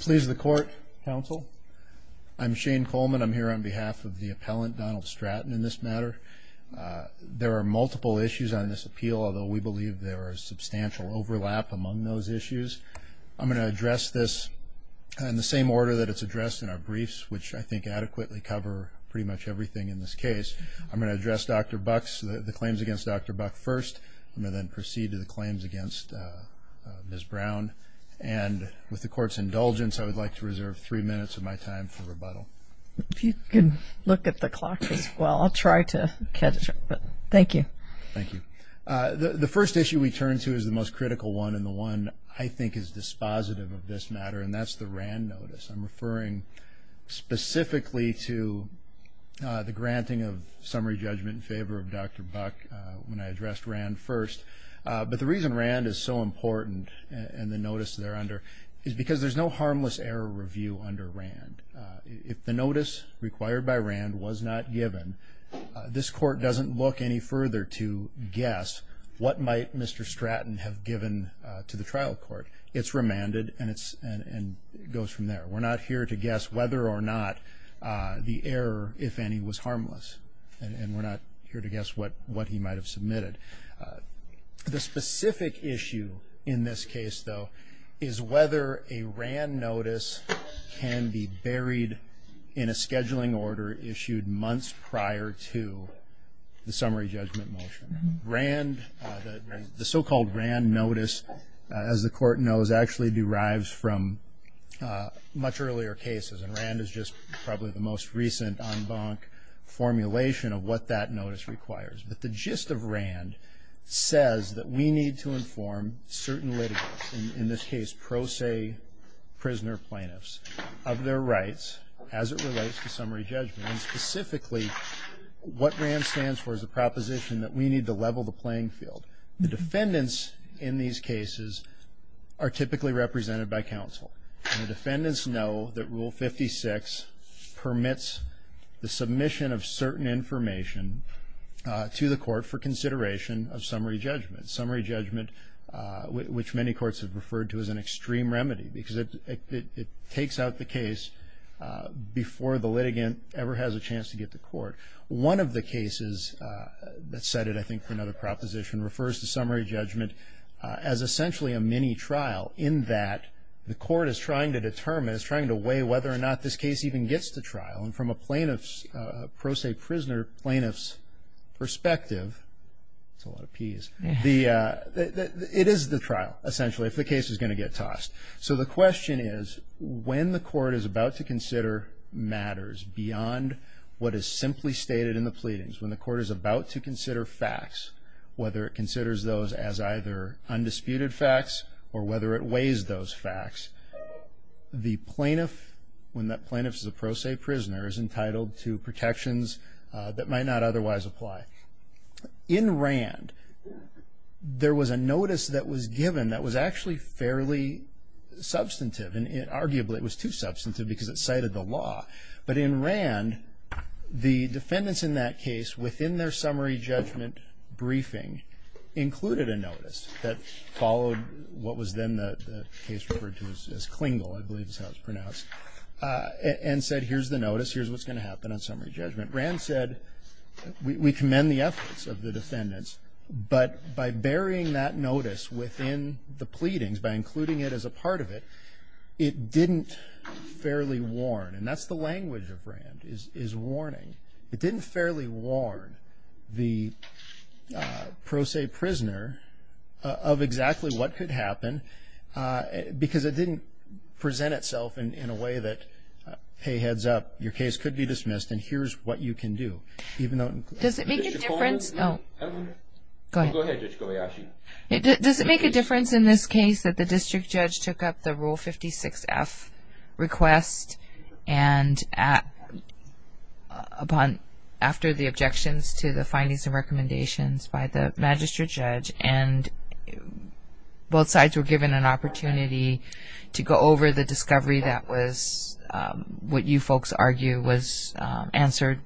Please the court counsel I'm Shane Coleman I'm here on behalf of the appellant Donald Stratton in this matter there are multiple issues on this appeal although we believe there are substantial overlap among those issues I'm going to address this in the same order that it's addressed in our briefs which I think adequately cover pretty much everything in this case I'm going to address dr. Bucks the claims against dr. Buck first and then proceed to the court's indulgence I would like to reserve three minutes of my time for rebuttal if you can look at the clock as well I'll try to catch it but thank you thank you the first issue we turn to is the most critical one and the one I think is dispositive of this matter and that's the RAND notice I'm referring specifically to the granting of summary judgment in favor of dr. Buck when I addressed RAND first but the reason RAND is so important and the notice they're under is because there's no harmless error review under RAND if the notice required by RAND was not given this court doesn't look any further to guess what might mr. Stratton have given to the trial court it's remanded and it's and it goes from there we're not here to guess whether or not the error if any was harmless and we're not here to guess what what he might have submitted the specific issue in this case though is whether a RAND notice can be buried in a scheduling order issued months prior to the summary judgment motion RAND the so-called RAND notice as the court knows actually derives from much earlier cases and RAND is just probably the most recent on bunk formulation of what that notice requires but the gist of RAND says that we need to inform certain litigants in this case pro se prisoner plaintiffs of their rights as it relates to summary judgment specifically what RAND stands for is a proposition that we need to level the playing field the defendants in these cases are typically represented by counsel the defendants know that rule 56 permits the submission of certain information to the court for consideration of summary judgment summary judgment which many courts have referred to as an extreme remedy because it takes out the case before the litigant ever has a chance to get the court one of the cases that said it I think for another proposition refers to summary judgment as essentially a mini trial in that the court is trying to determine is trying to weigh whether or not this case even gets the trial and from a plaintiff's pro se prisoner plaintiffs perspective it's a lot of peas the it is the trial essentially if the case is going to get tossed so the question is when the court is about to consider matters beyond what is simply stated in the pleadings when the court is about to consider facts whether it considers those as either undisputed facts or whether it weighs those facts the plaintiff when that plaintiffs is a pro se prisoners entitled to protections that might not otherwise apply in Rand there was a notice that was given that was actually fairly substantive and it arguably it was too substantive because it cited the law but in Rand the defendants in that case within their summary judgment briefing included a notice that followed what was then the case referred to as Klingel I believe is how it's pronounced and said here's the notice here's what's going to happen on summary judgment Rand said we commend the efforts of the defendants but by burying that notice within the pleadings by including it as a part of it it didn't fairly warn and that's the language of Rand is is warning it didn't fairly warn the pro se prisoner of exactly what could happen because it didn't present itself in a way that hey heads up your case could be dismissed and here's what you can do even though does it make a difference in this case that the district judge took up the rule 56 F request and at upon after the objections to the findings and both sides were given an opportunity to go over the discovery that was what you folks argue was answered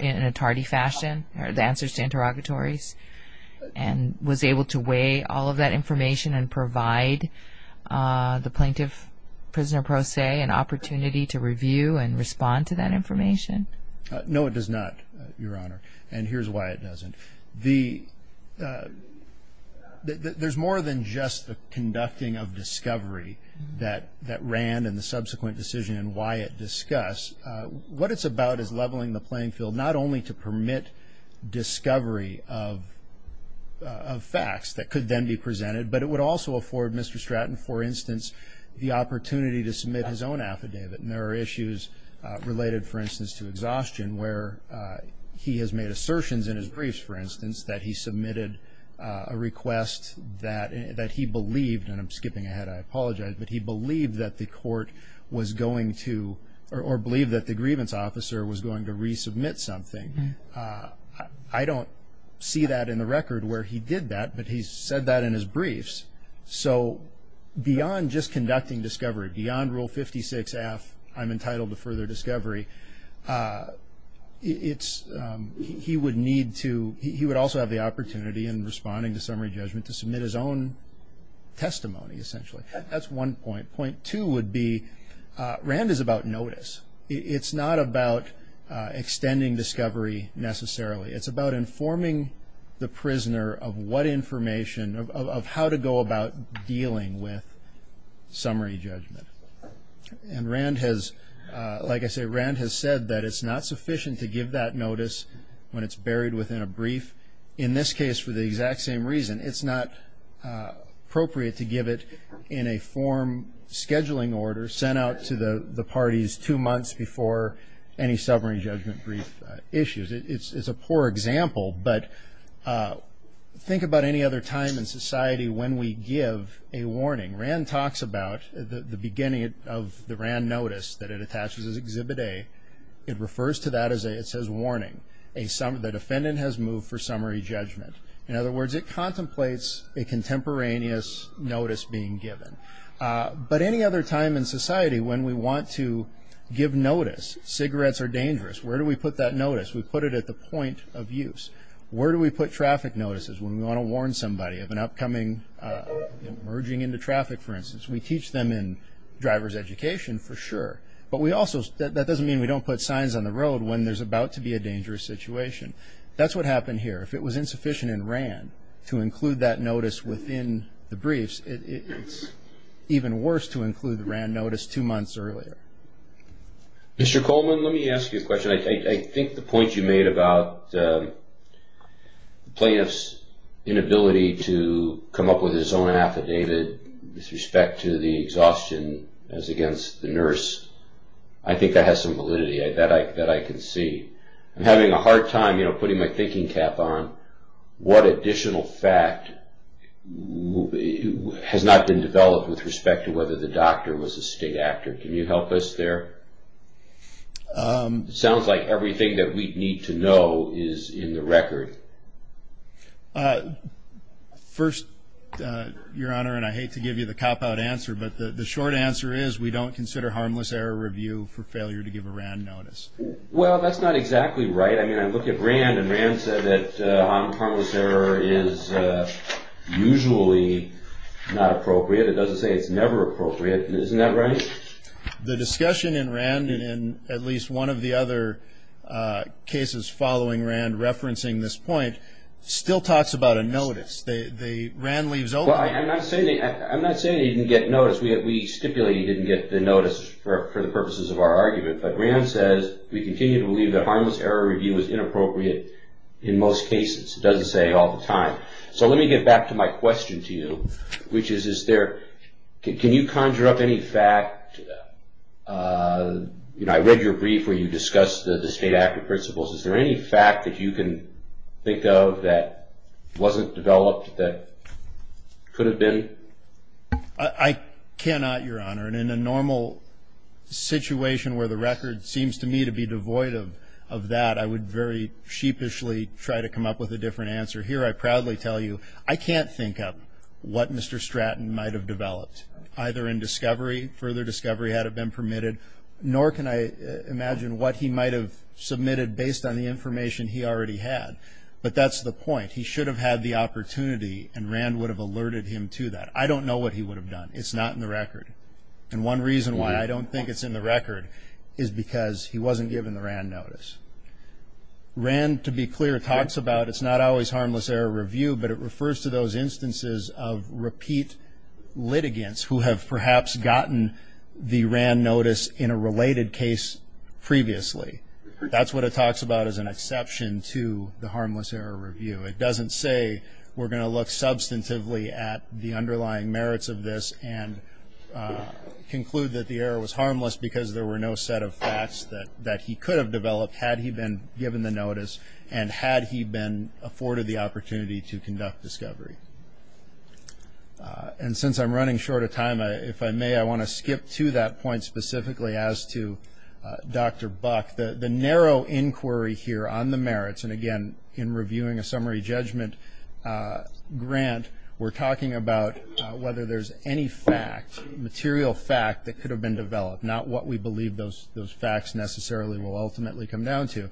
in a tardy fashion or the answers to interrogatories and was able to weigh all of that information and provide the plaintiff prisoner pro se an opportunity to review and respond to that information no it does not your honor and here's why it doesn't the there's more than just the conducting of discovery that that ran in the subsequent decision and why it discuss what it's about is leveling the playing field not only to permit discovery of facts that could then be presented but it would also afford mr. Stratton for instance the opportunity to submit his own affidavit and there are issues related for instance to exhaustion where he has made assertions in his briefs for instance that he believed that the court was going to or believe that the grievance officer was going to resubmit something I don't see that in the record where he did that but he said that in his briefs so beyond just conducting discovery beyond rule 56 F I'm entitled to further discovery it's he would need to he would also have the testimony essentially that's one point point two would be Rand is about notice it's not about extending discovery necessarily it's about informing the prisoner of what information of how to go about dealing with summary judgment and Rand has like I say Rand has said that it's not sufficient to give that notice when it's buried within a brief in this case for the exact same reason it's not appropriate to give it in a form scheduling order sent out to the the parties two months before any summary judgment brief issues it's a poor example but think about any other time in society when we give a warning Rand talks about the beginning of the Rand notice that it attaches as exhibit a it refers to that as a it says warning a some of the defendant has moved for a contemporaneous notice being given but any other time in society when we want to give notice cigarettes are dangerous where do we put that notice we put it at the point of use where do we put traffic notices when we want to warn somebody of an upcoming merging into traffic for instance we teach them in driver's education for sure but we also said that doesn't mean we don't put signs on the road when there's about to be a dangerous situation that's what happened here if it was insufficient and ran to include that notice within the briefs it's even worse to include the Rand notice two months earlier Mr. Coleman let me ask you a question I think the point you made about the plaintiffs inability to come up with his own affidavit with respect to the exhaustion as against the nurse I think that has some validity I bet I bet I can see I'm a hard time putting my thinking cap on what additional fact has not been developed with respect to whether the doctor was a state actor can you help us there sounds like everything that we need to know is in the record first your honor and I hate to give you the cop-out answer but the short answer is we don't consider harmless error review for failure to give a Rand notice well that's not exactly right I mean I look at brand and ran said that harmless error is usually not appropriate it doesn't say it's never appropriate isn't that right the discussion in random and at least one of the other cases following Rand referencing this point still talks about a notice they ran leaves oh well I'm not saying that I'm not saying you didn't get notice we have we stipulated didn't get the notice for the purposes of our argument but says we continue to believe that harmless error review is inappropriate in most cases it doesn't say all the time so let me get back to my question to you which is is there can you conjure up any fact you know I read your brief where you discussed the state actor principles is there any fact that you can think of that wasn't developed that could have been I cannot your honor and in a normal situation where the record seems to me to be devoid of of that I would very sheepishly try to come up with a different answer here I proudly tell you I can't think of what mr. Stratton might have developed either in discovery further discovery had it been permitted nor can I imagine what he might have submitted based on the information he already had but that's the point he should have had the opportunity and Rand would have alerted him to that I don't know what he would have done it's not in the record and one reason why I don't think it's in the record is because he wasn't given the Rand notice ran to be clear talks about it's not always harmless error review but it refers to those instances of repeat litigants who have perhaps gotten the Rand notice in a related case previously that's what it talks about as an exception to the harmless error review it doesn't say we're going to look substantively at the underlying merits of this and conclude that the error was harmless because there were no set of facts that that he could have developed had he been given the notice and had he been afforded the opportunity to conduct discovery and since I'm running short of time if I may I want to skip to that point specifically as to dr. buck the the narrow inquiry here on the merits and again in reviewing a summary judgment grant we're talking about whether there's any fact material fact that could have been developed not what we believe those those facts necessarily will ultimately come down to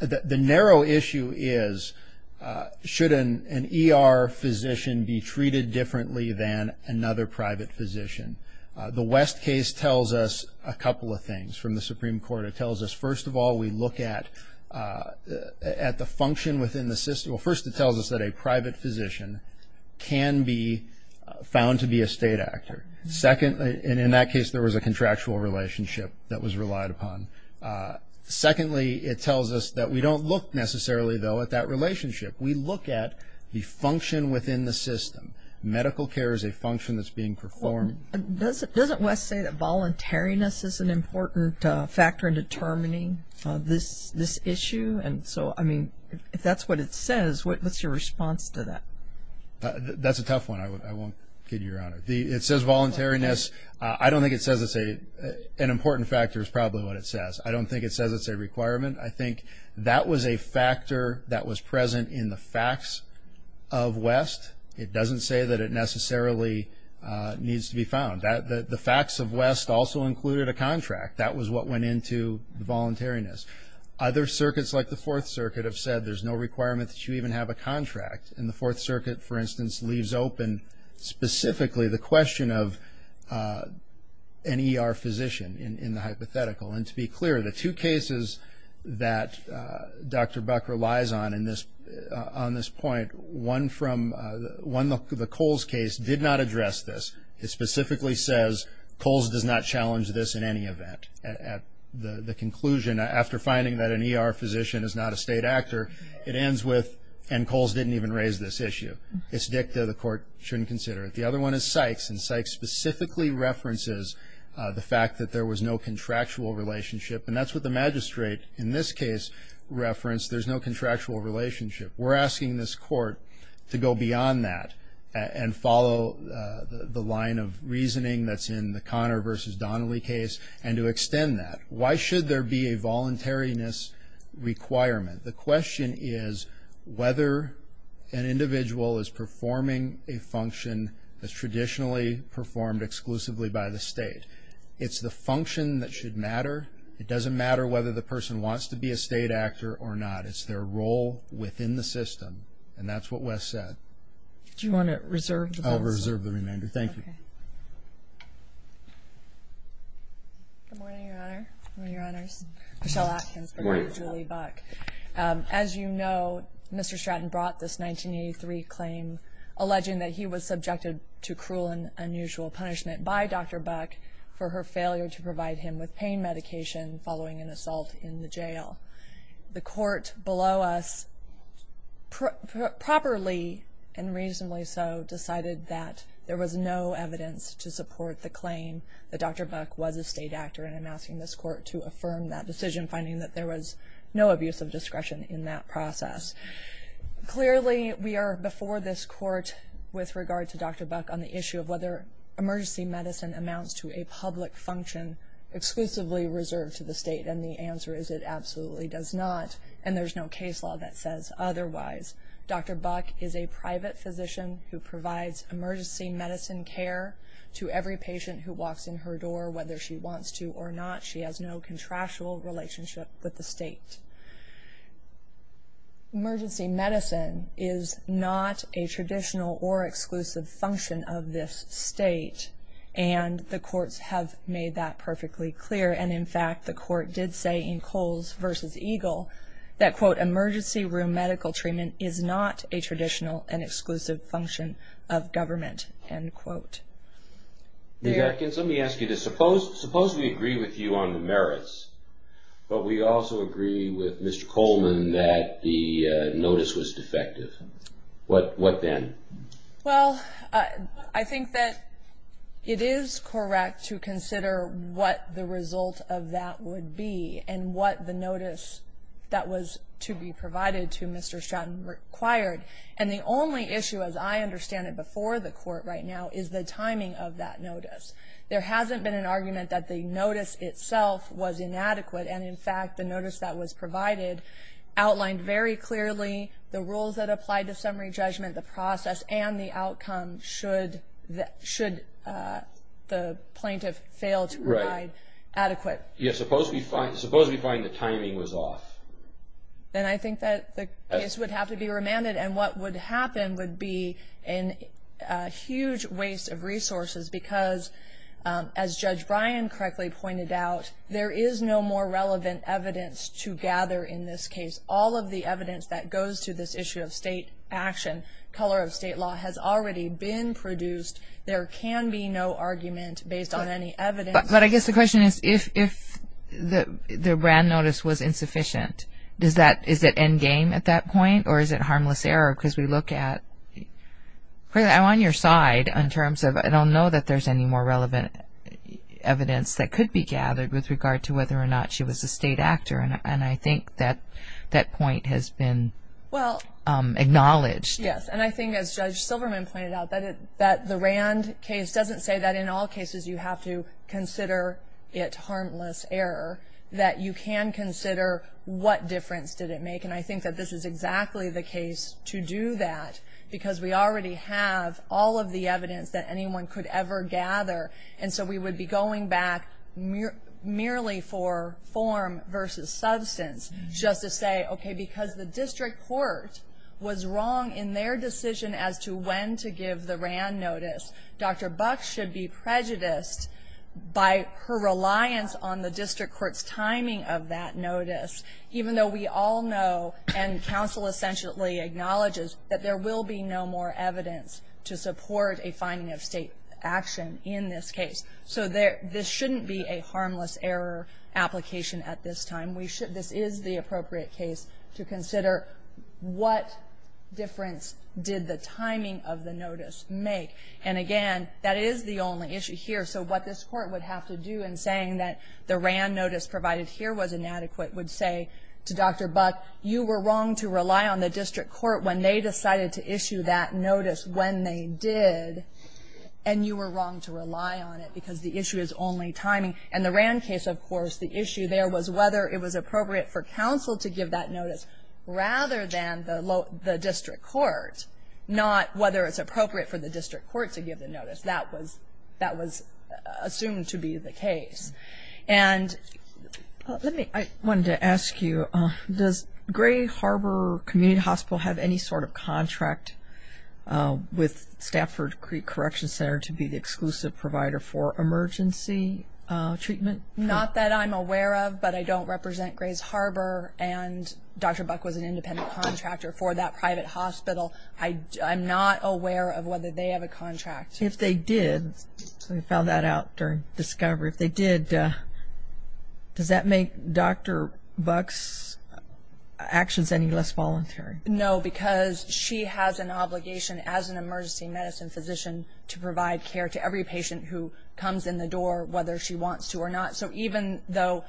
the narrow issue is shouldn't an ER physician be treated differently than another private physician the West case tells us a couple of things from the at the function within the system well first it tells us that a private physician can be found to be a state actor secondly and in that case there was a contractual relationship that was relied upon secondly it tells us that we don't look necessarily though at that relationship we look at the function within the system medical care is a function that's being performed does it doesn't West say that voluntariness is an important factor in determining this this issue and so I mean if that's what it says what's your response to that that's a tough one I won't kid your honor the it says voluntariness I don't think it says it's a an important factor is probably what it says I don't think it says it's a requirement I think that was a factor that was present in the facts of West it doesn't say that it necessarily needs to be found that the facts of West also included a contract that was what went into the other circuits like the Fourth Circuit have said there's no requirement that you even have a contract in the Fourth Circuit for instance leaves open specifically the question of any our physician in the hypothetical and to be clear the two cases that dr. buck relies on in this on this point one from one look to the Coles case did not address this it specifically says Coles does not challenge this in any event at the conclusion after finding that any our physician is not a state actor it ends with and Coles didn't even raise this issue it's dicta the court shouldn't consider it the other one is Sykes and Sykes specifically references the fact that there was no contractual relationship and that's what the magistrate in this case reference there's no contractual relationship we're asking this court to go beyond that and follow the line of reasoning that's in the Connor versus Donnelly case and to extend that why should there be a voluntariness requirement the question is whether an individual is performing a function that's traditionally performed exclusively by the state it's the function that should matter it doesn't matter whether the person wants to be a state actor or not it's their role within the system and that's what Wes said do you want to reserve the over reserve the remainder thank you as you know mr. Stratton brought this 1983 claim alleging that he was subjected to cruel and unusual punishment by dr. buck for her failure to provide him with pain medication following an assault in the jail the court below us properly and reasonably so decided that there was no evidence to support the claim that dr. buck was a state actor and I'm asking this court to affirm that decision finding that there was no abuse of discretion in that process clearly we are before this court with regard to dr. buck on the issue of whether emergency medicine amounts to a state and the answer is it absolutely does not and there's no case law that says otherwise dr. buck is a private physician who provides emergency medicine care to every patient who walks in her door whether she wants to or not she has no contractual relationship with the state emergency medicine is not a traditional or exclusive function of this state and the courts have made that perfectly clear and in fact the court did say in Kohl's versus Eagle that quote emergency room medical treatment is not a traditional and exclusive function of government and quote there can somebody ask you to suppose suppose we agree with you on the merits but we also agree with mr. Coleman that the notice was defective what what then well I think that it is correct to consider what the result of that would be and what the notice that was to be provided to mr. Stratton required and the only issue as I understand it before the court right now is the timing of that notice there hasn't been an argument that the notice itself was inadequate and in fact the notice that was provided outlined very clearly the rules that apply to summary judgment the process and the outcome should that should the plaintiff fail to ride adequate yes suppose we find suppose we find the timing was off then I think that the case would have to be remanded and what would happen would be in a huge waste of resources because as judge Brian correctly pointed out there is no more relevant evidence to gather in this case all of the evidence that goes to this issue of state action color of state law has already been produced there can be no argument based on any evidence but I guess the question is if the brand notice was insufficient does that is that endgame at that point or is it harmless error because we look at I'm on your side in terms of I don't know that there's any more relevant evidence that could be gathered with regard to whether or not she was a state actor and I think that that point has been well acknowledged yes and I think as judge Silverman pointed out that it that the Rand case doesn't say that in all cases you have to consider it harmless error that you can consider what difference did it make and I think that this is exactly the case to do that because we already have all of the evidence that form versus substance just to say okay because the district court was wrong in their decision as to when to give the Rand notice dr. Buck should be prejudiced by her reliance on the district courts timing of that notice even though we all know and counsel essentially acknowledges that there will be no more evidence to support a finding of state action in this case so there this shouldn't be a harmless error application at this time we should this is the appropriate case to consider what difference did the timing of the notice make and again that is the only issue here so what this court would have to do in saying that the Rand notice provided here was inadequate would say to dr. buck you were wrong to rely on the district court when they decided to issue that notice when they did and you were wrong to rely on it because the issue is only timing and the Rand case of course the issue there was whether it was appropriate for counsel to give that notice rather than the low the district court not whether it's appropriate for the district court to give the notice that was that was assumed to be the case and let me I wanted to ask you does Gray Harbor Community Hospital have any sort of contract with Stafford Creek Correction Center to be the exclusive provider for emergency treatment not that I'm aware of but I don't represent Gray's Harbor and dr. buck was an independent contractor for that private hospital I I'm not aware of whether they have a contract if they did we found that out during discovery if they did does that make dr. bucks actions any less voluntary no because she has an physician to provide care to every patient who comes in the door whether she wants to or not so even though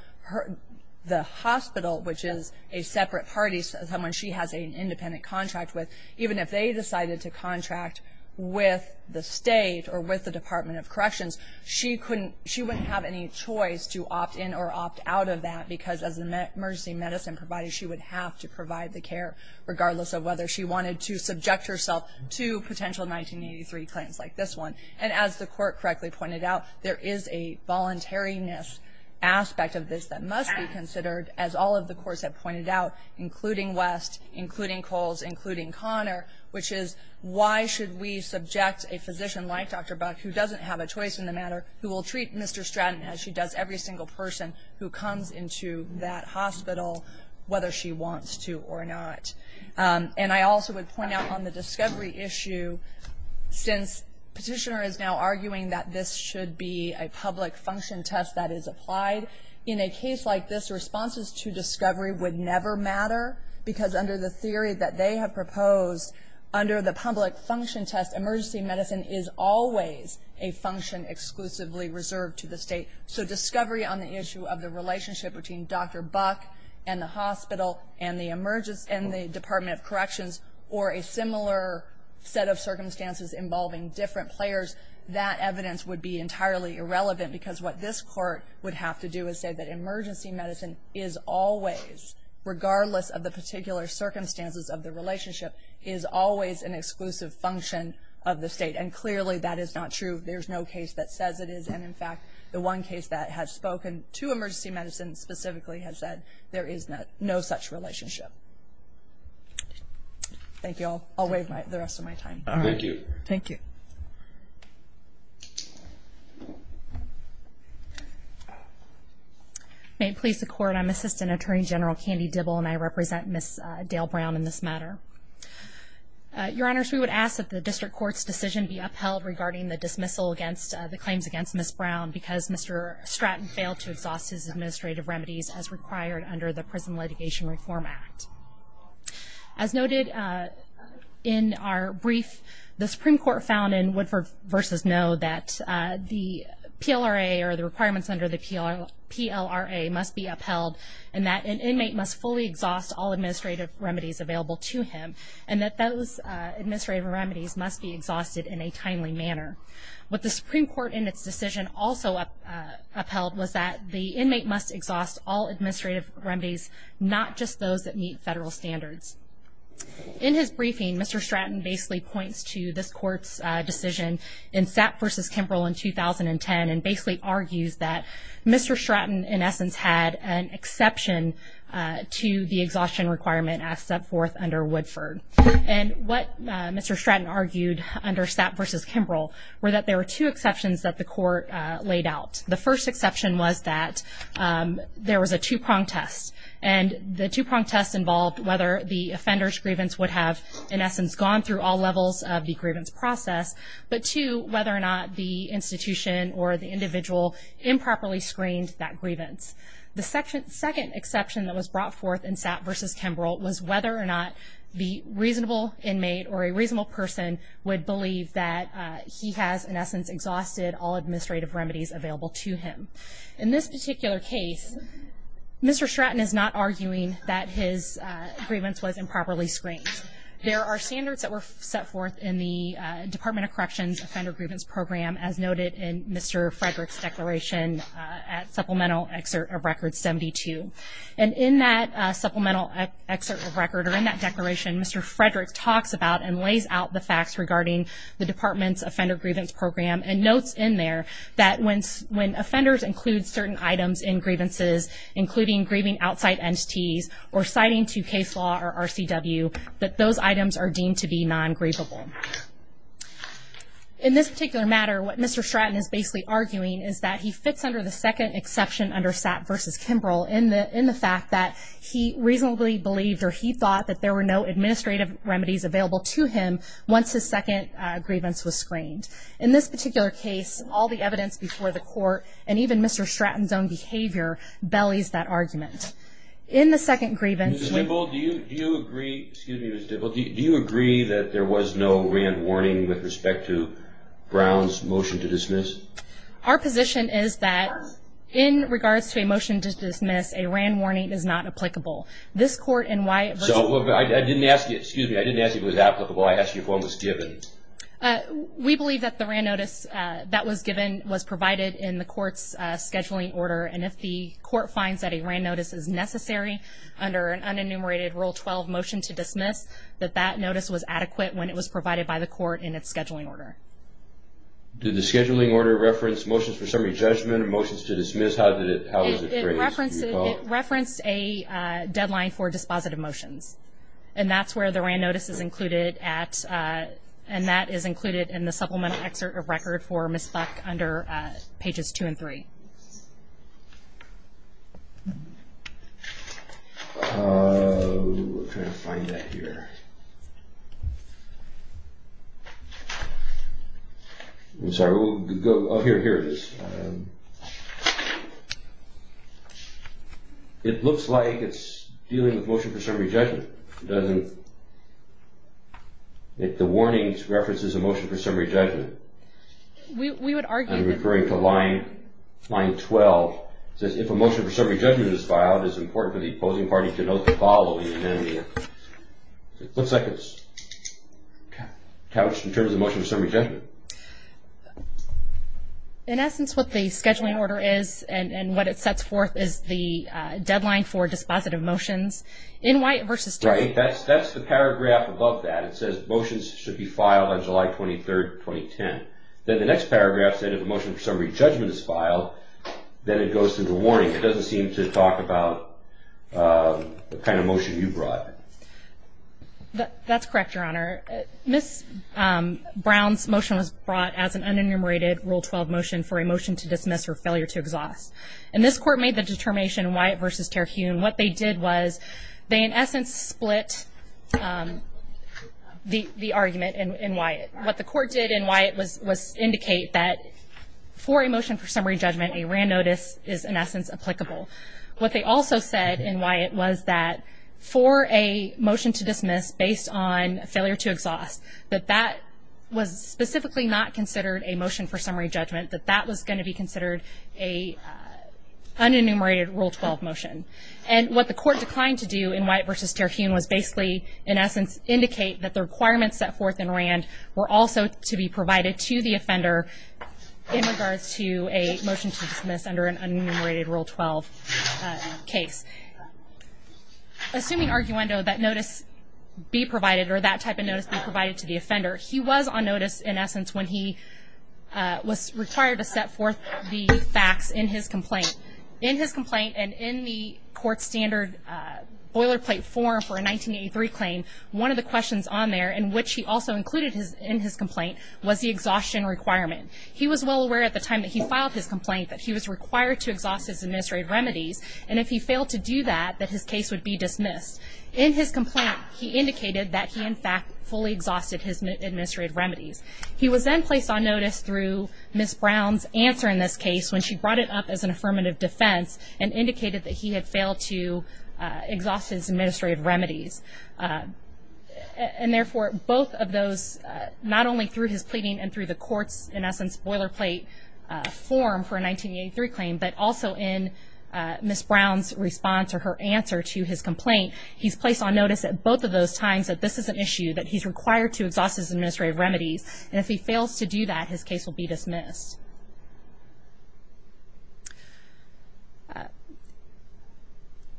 the hospital which is a separate parties someone she has an independent contract with even if they decided to contract with the state or with the Department of Corrections she couldn't she wouldn't have any choice to opt in or opt out of that because as the emergency medicine provided she would have to provide the care regardless of whether she wanted to 1983 claims like this one and as the court correctly pointed out there is a voluntariness aspect of this that must be considered as all of the courts have pointed out including West including Coles including Connor which is why should we subject a physician like dr. buck who doesn't have a choice in the matter who will treat mr. Stratton as she does every single person who comes into that hospital whether she wants to or not and I also would point out on the discovery issue since petitioner is now arguing that this should be a public function test that is applied in a case like this responses to discovery would never matter because under the theory that they have proposed under the public function test emergency medicine is always a function exclusively reserved to the state so discovery on the issue of the relationship between dr. buck and the hospital and the emergence and the Department of Corrections or a similar set of circumstances involving different players that evidence would be entirely irrelevant because what this court would have to do is say that emergency medicine is always regardless of the particular circumstances of the relationship is always an exclusive function of the state and clearly that is not true there's no case that says it is and in fact the one case that has spoken to emergency medicine specifically has said there is not no relationship thank you all always like the rest of my time thank you may please the court I'm assistant attorney general candy double and I represent miss dale brown in this matter your honors we would ask that the district court's decision be upheld regarding the dismissal against the claims against miss brown because mr. Stratton failed to exhaust his administrative remedies as required under the prison litigation reform act as noted in our brief the Supreme Court found in Woodford versus know that the PLR a or the requirements under the appeal PLR a must be upheld and that an inmate must fully exhaust all administrative remedies available to him and that those administrative remedies must be exhausted in a timely manner what the Supreme Court in its decision also up upheld was that the inmate must exhaust all administrative remedies not just those that meet federal standards in his briefing mr. Stratton basically points to this court's decision in sap versus Kimbrell in 2010 and basically argues that mr. Stratton in essence had an exception to the exhaustion requirement as set forth under Woodford and what mr. Stratton argued under sap versus Kimbrell were that there are two exception was that there was a two-prong test and the two-prong test involved whether the offender's grievance would have in essence gone through all levels of the grievance process but to whether or not the institution or the individual improperly screened that grievance the section second exception that was brought forth in sap versus Kimbrell was whether or not the reasonable inmate or a reasonable person would believe that he has an essence exhausted all administrative remedies available to him in this particular case mr. Stratton is not arguing that his grievance was improperly screened there are standards that were set forth in the Department of Corrections offender grievance program as noted in mr. Frederick's declaration at supplemental excerpt of record 72 and in that supplemental record in that declaration mr. Frederick talks about and lays out the facts regarding the program and notes in there that when when offenders include certain items in grievances including grieving outside entities or citing to case law or RCW that those items are deemed to be non grievable in this particular matter what mr. Stratton is basically arguing is that he fits under the second exception under sap versus Kimbrell in the in the fact that he reasonably believed or he thought that there were no administrative remedies available to him once his second grievance was screened in this particular case all the evidence before the court and even mr. Stratton's own behavior bellies that argument in the second grievance do you agree that there was no warning with respect to Brown's motion to dismiss our position is that in regards to a motion to dismiss a ran warning is not applicable this court and why so I didn't ask you was applicable I asked you for was given we believe that the ran notice that was given was provided in the court's scheduling order and if the court finds that a ran notice is necessary under an unenumerated rule 12 motion to dismiss that that notice was adequate when it was provided by the court in its scheduling order did the scheduling order reference motions for summary judgment or motions to dismiss how did it reference a deadline for dispositive motions and that's where the ran notice is included at and that is included in the supplemental excerpt of record for miss back under pages 2 & 3 here it looks like it's dealing with motion for summary judgment doesn't if the warnings references a motion for summary judgment we would argue I'm referring to line line 12 says if a motion for summary judgment is filed is important for the opposing party to note the following looks like it's couched in terms of motion of summary judgment in essence what the scheduling order is and and what it sets forth is the deadline for dispositive motions in white versus right that's that's the paragraph above that it says motions should be filed on July 23rd 2010 then the next paragraph said if a motion for summary judgment is filed then it goes through the warning it doesn't seem to talk about the kind of motion you brought that's correct your honor miss Brown's motion was brought as an unenumerated rule 12 motion for a motion to dismiss or failure to exhaust and this court made the determination why it versus tear hewn what they did was they in essence split the argument and why it what the court did and why it was was indicate that for emotion for judgment a ran notice is in essence applicable what they also said and why it was that for a motion to dismiss based on failure to exhaust that that was specifically not considered a motion for summary judgment that that was going to be considered a unenumerated rule 12 motion and what the court declined to do in white versus tear hewn was basically in essence indicate that the requirements set forth in Rand were also to be provided to the offender in regards to a motion to dismiss under an unenumerated rule 12 case assuming arguendo that notice be provided or that type of notice be provided to the offender he was on notice in essence when he was required to set forth the facts in his complaint in his complaint and in the court standard boilerplate form for a 1983 claim one of the questions on there in which he also included his in his complaint was the exhaustion requirement he was well aware at the time that he filed his complaint that he was required to exhaust his administrative remedies and if he failed to do that that his case would be dismissed in his complaint he indicated that he in fact fully exhausted his administrative remedies he was then placed on notice through miss Brown's answer in this case when she brought it up as an affirmative defense and indicated that he had failed to exhaust his administrative remedies and therefore both of those not only through his pleading and through the courts in form for a 1983 claim but also in miss Brown's response or her answer to his complaint he's placed on notice at both of those times that this is an issue that he's required to exhaust his administrative remedies and if he fails to do that his case will be dismissed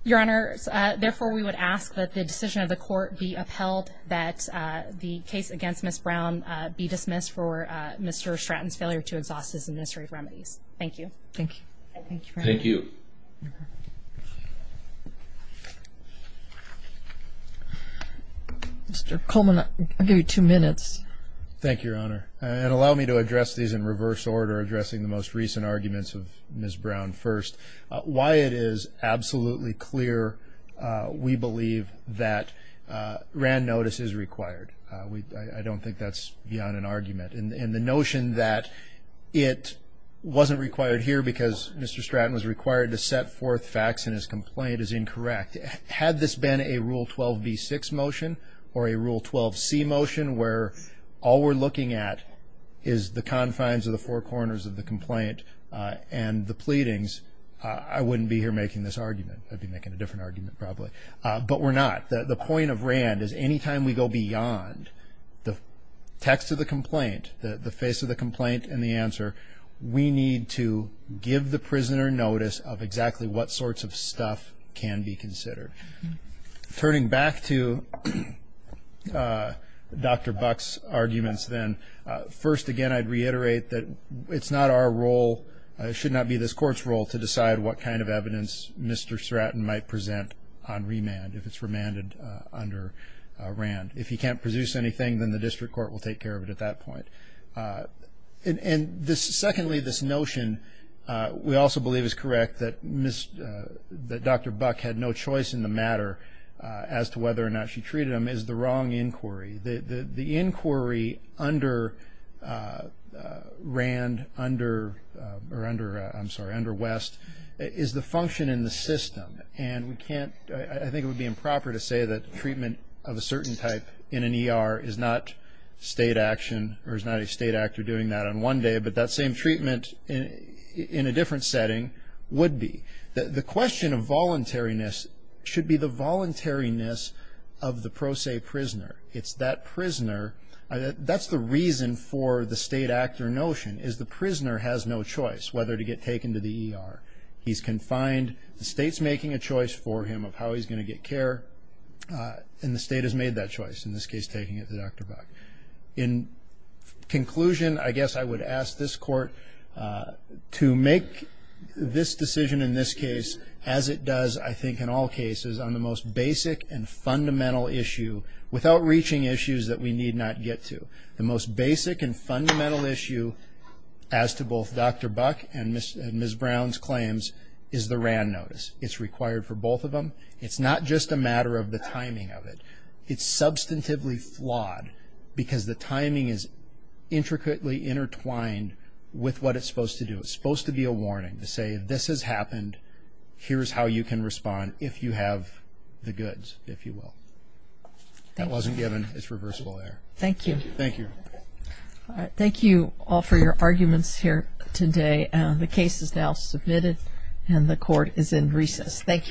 your honor therefore we would ask that the decision of the court be upheld that the case against miss Brown be dismissed for mr. Stratton's failure to exhaust his administrative remedies thank you thank you mr. Coleman I'll give you two minutes thank your honor and allow me to address these in reverse order addressing the most recent arguments of miss Brown first why it is absolutely clear we believe that Rand notice is required we don't think that's beyond an argument in the notion that it wasn't required here because mr. Stratton was required to set forth facts and his complaint is incorrect had this been a rule 12b 6 motion or a rule 12c motion where all we're looking at is the confines of the four corners of the complaint and the pleadings I wouldn't be here making this argument I'd be making a different the text of the complaint the face of the complaint and the answer we need to give the prisoner notice of exactly what sorts of stuff can be considered turning back to dr. Bucks arguments then first again I'd reiterate that it's not our role it should not be this courts role to decide what kind of evidence mr. might present on remand if it's remanded under Rand if he can't produce anything then the district court will take care of it at that point and this secondly this notion we also believe is correct that mr. that dr. Buck had no choice in the matter as to whether or not she treated him is the wrong inquiry the inquiry under Rand under or under I'm sorry under West is the function in the system and we can't I think it would be improper to say that treatment of a certain type in an ER is not state action or is not a state actor doing that on one day but that same treatment in a different setting would be the question of voluntariness should be the voluntariness of the pro se prisoner it's that prisoner that's the reason for the state actor notion is the prisoner has no choice whether to get taken to the ER he's confined the state's making a choice for him of how he's going to get care in the state has made that choice in this case taking it to dr. Buck in conclusion I guess I would ask this court to make this decision in this case as it does I think in all cases on the most basic and fundamental issue without reaching issues that we need not get to the most basic and fundamental issue as to both dr. Buck and mr. and ms. Brown's claims is the Rand notice it's required for both of them it's not just a matter of the timing of it it's substantively flawed because the timing is intricately intertwined with what it's supposed to do it's supposed to be a warning to say this has happened here's how you can respond if you have the goods if you will that wasn't given it's reversible there thank you thank you all right thank you all for your arguments here today the case is now submitted and the court is in recess thank you again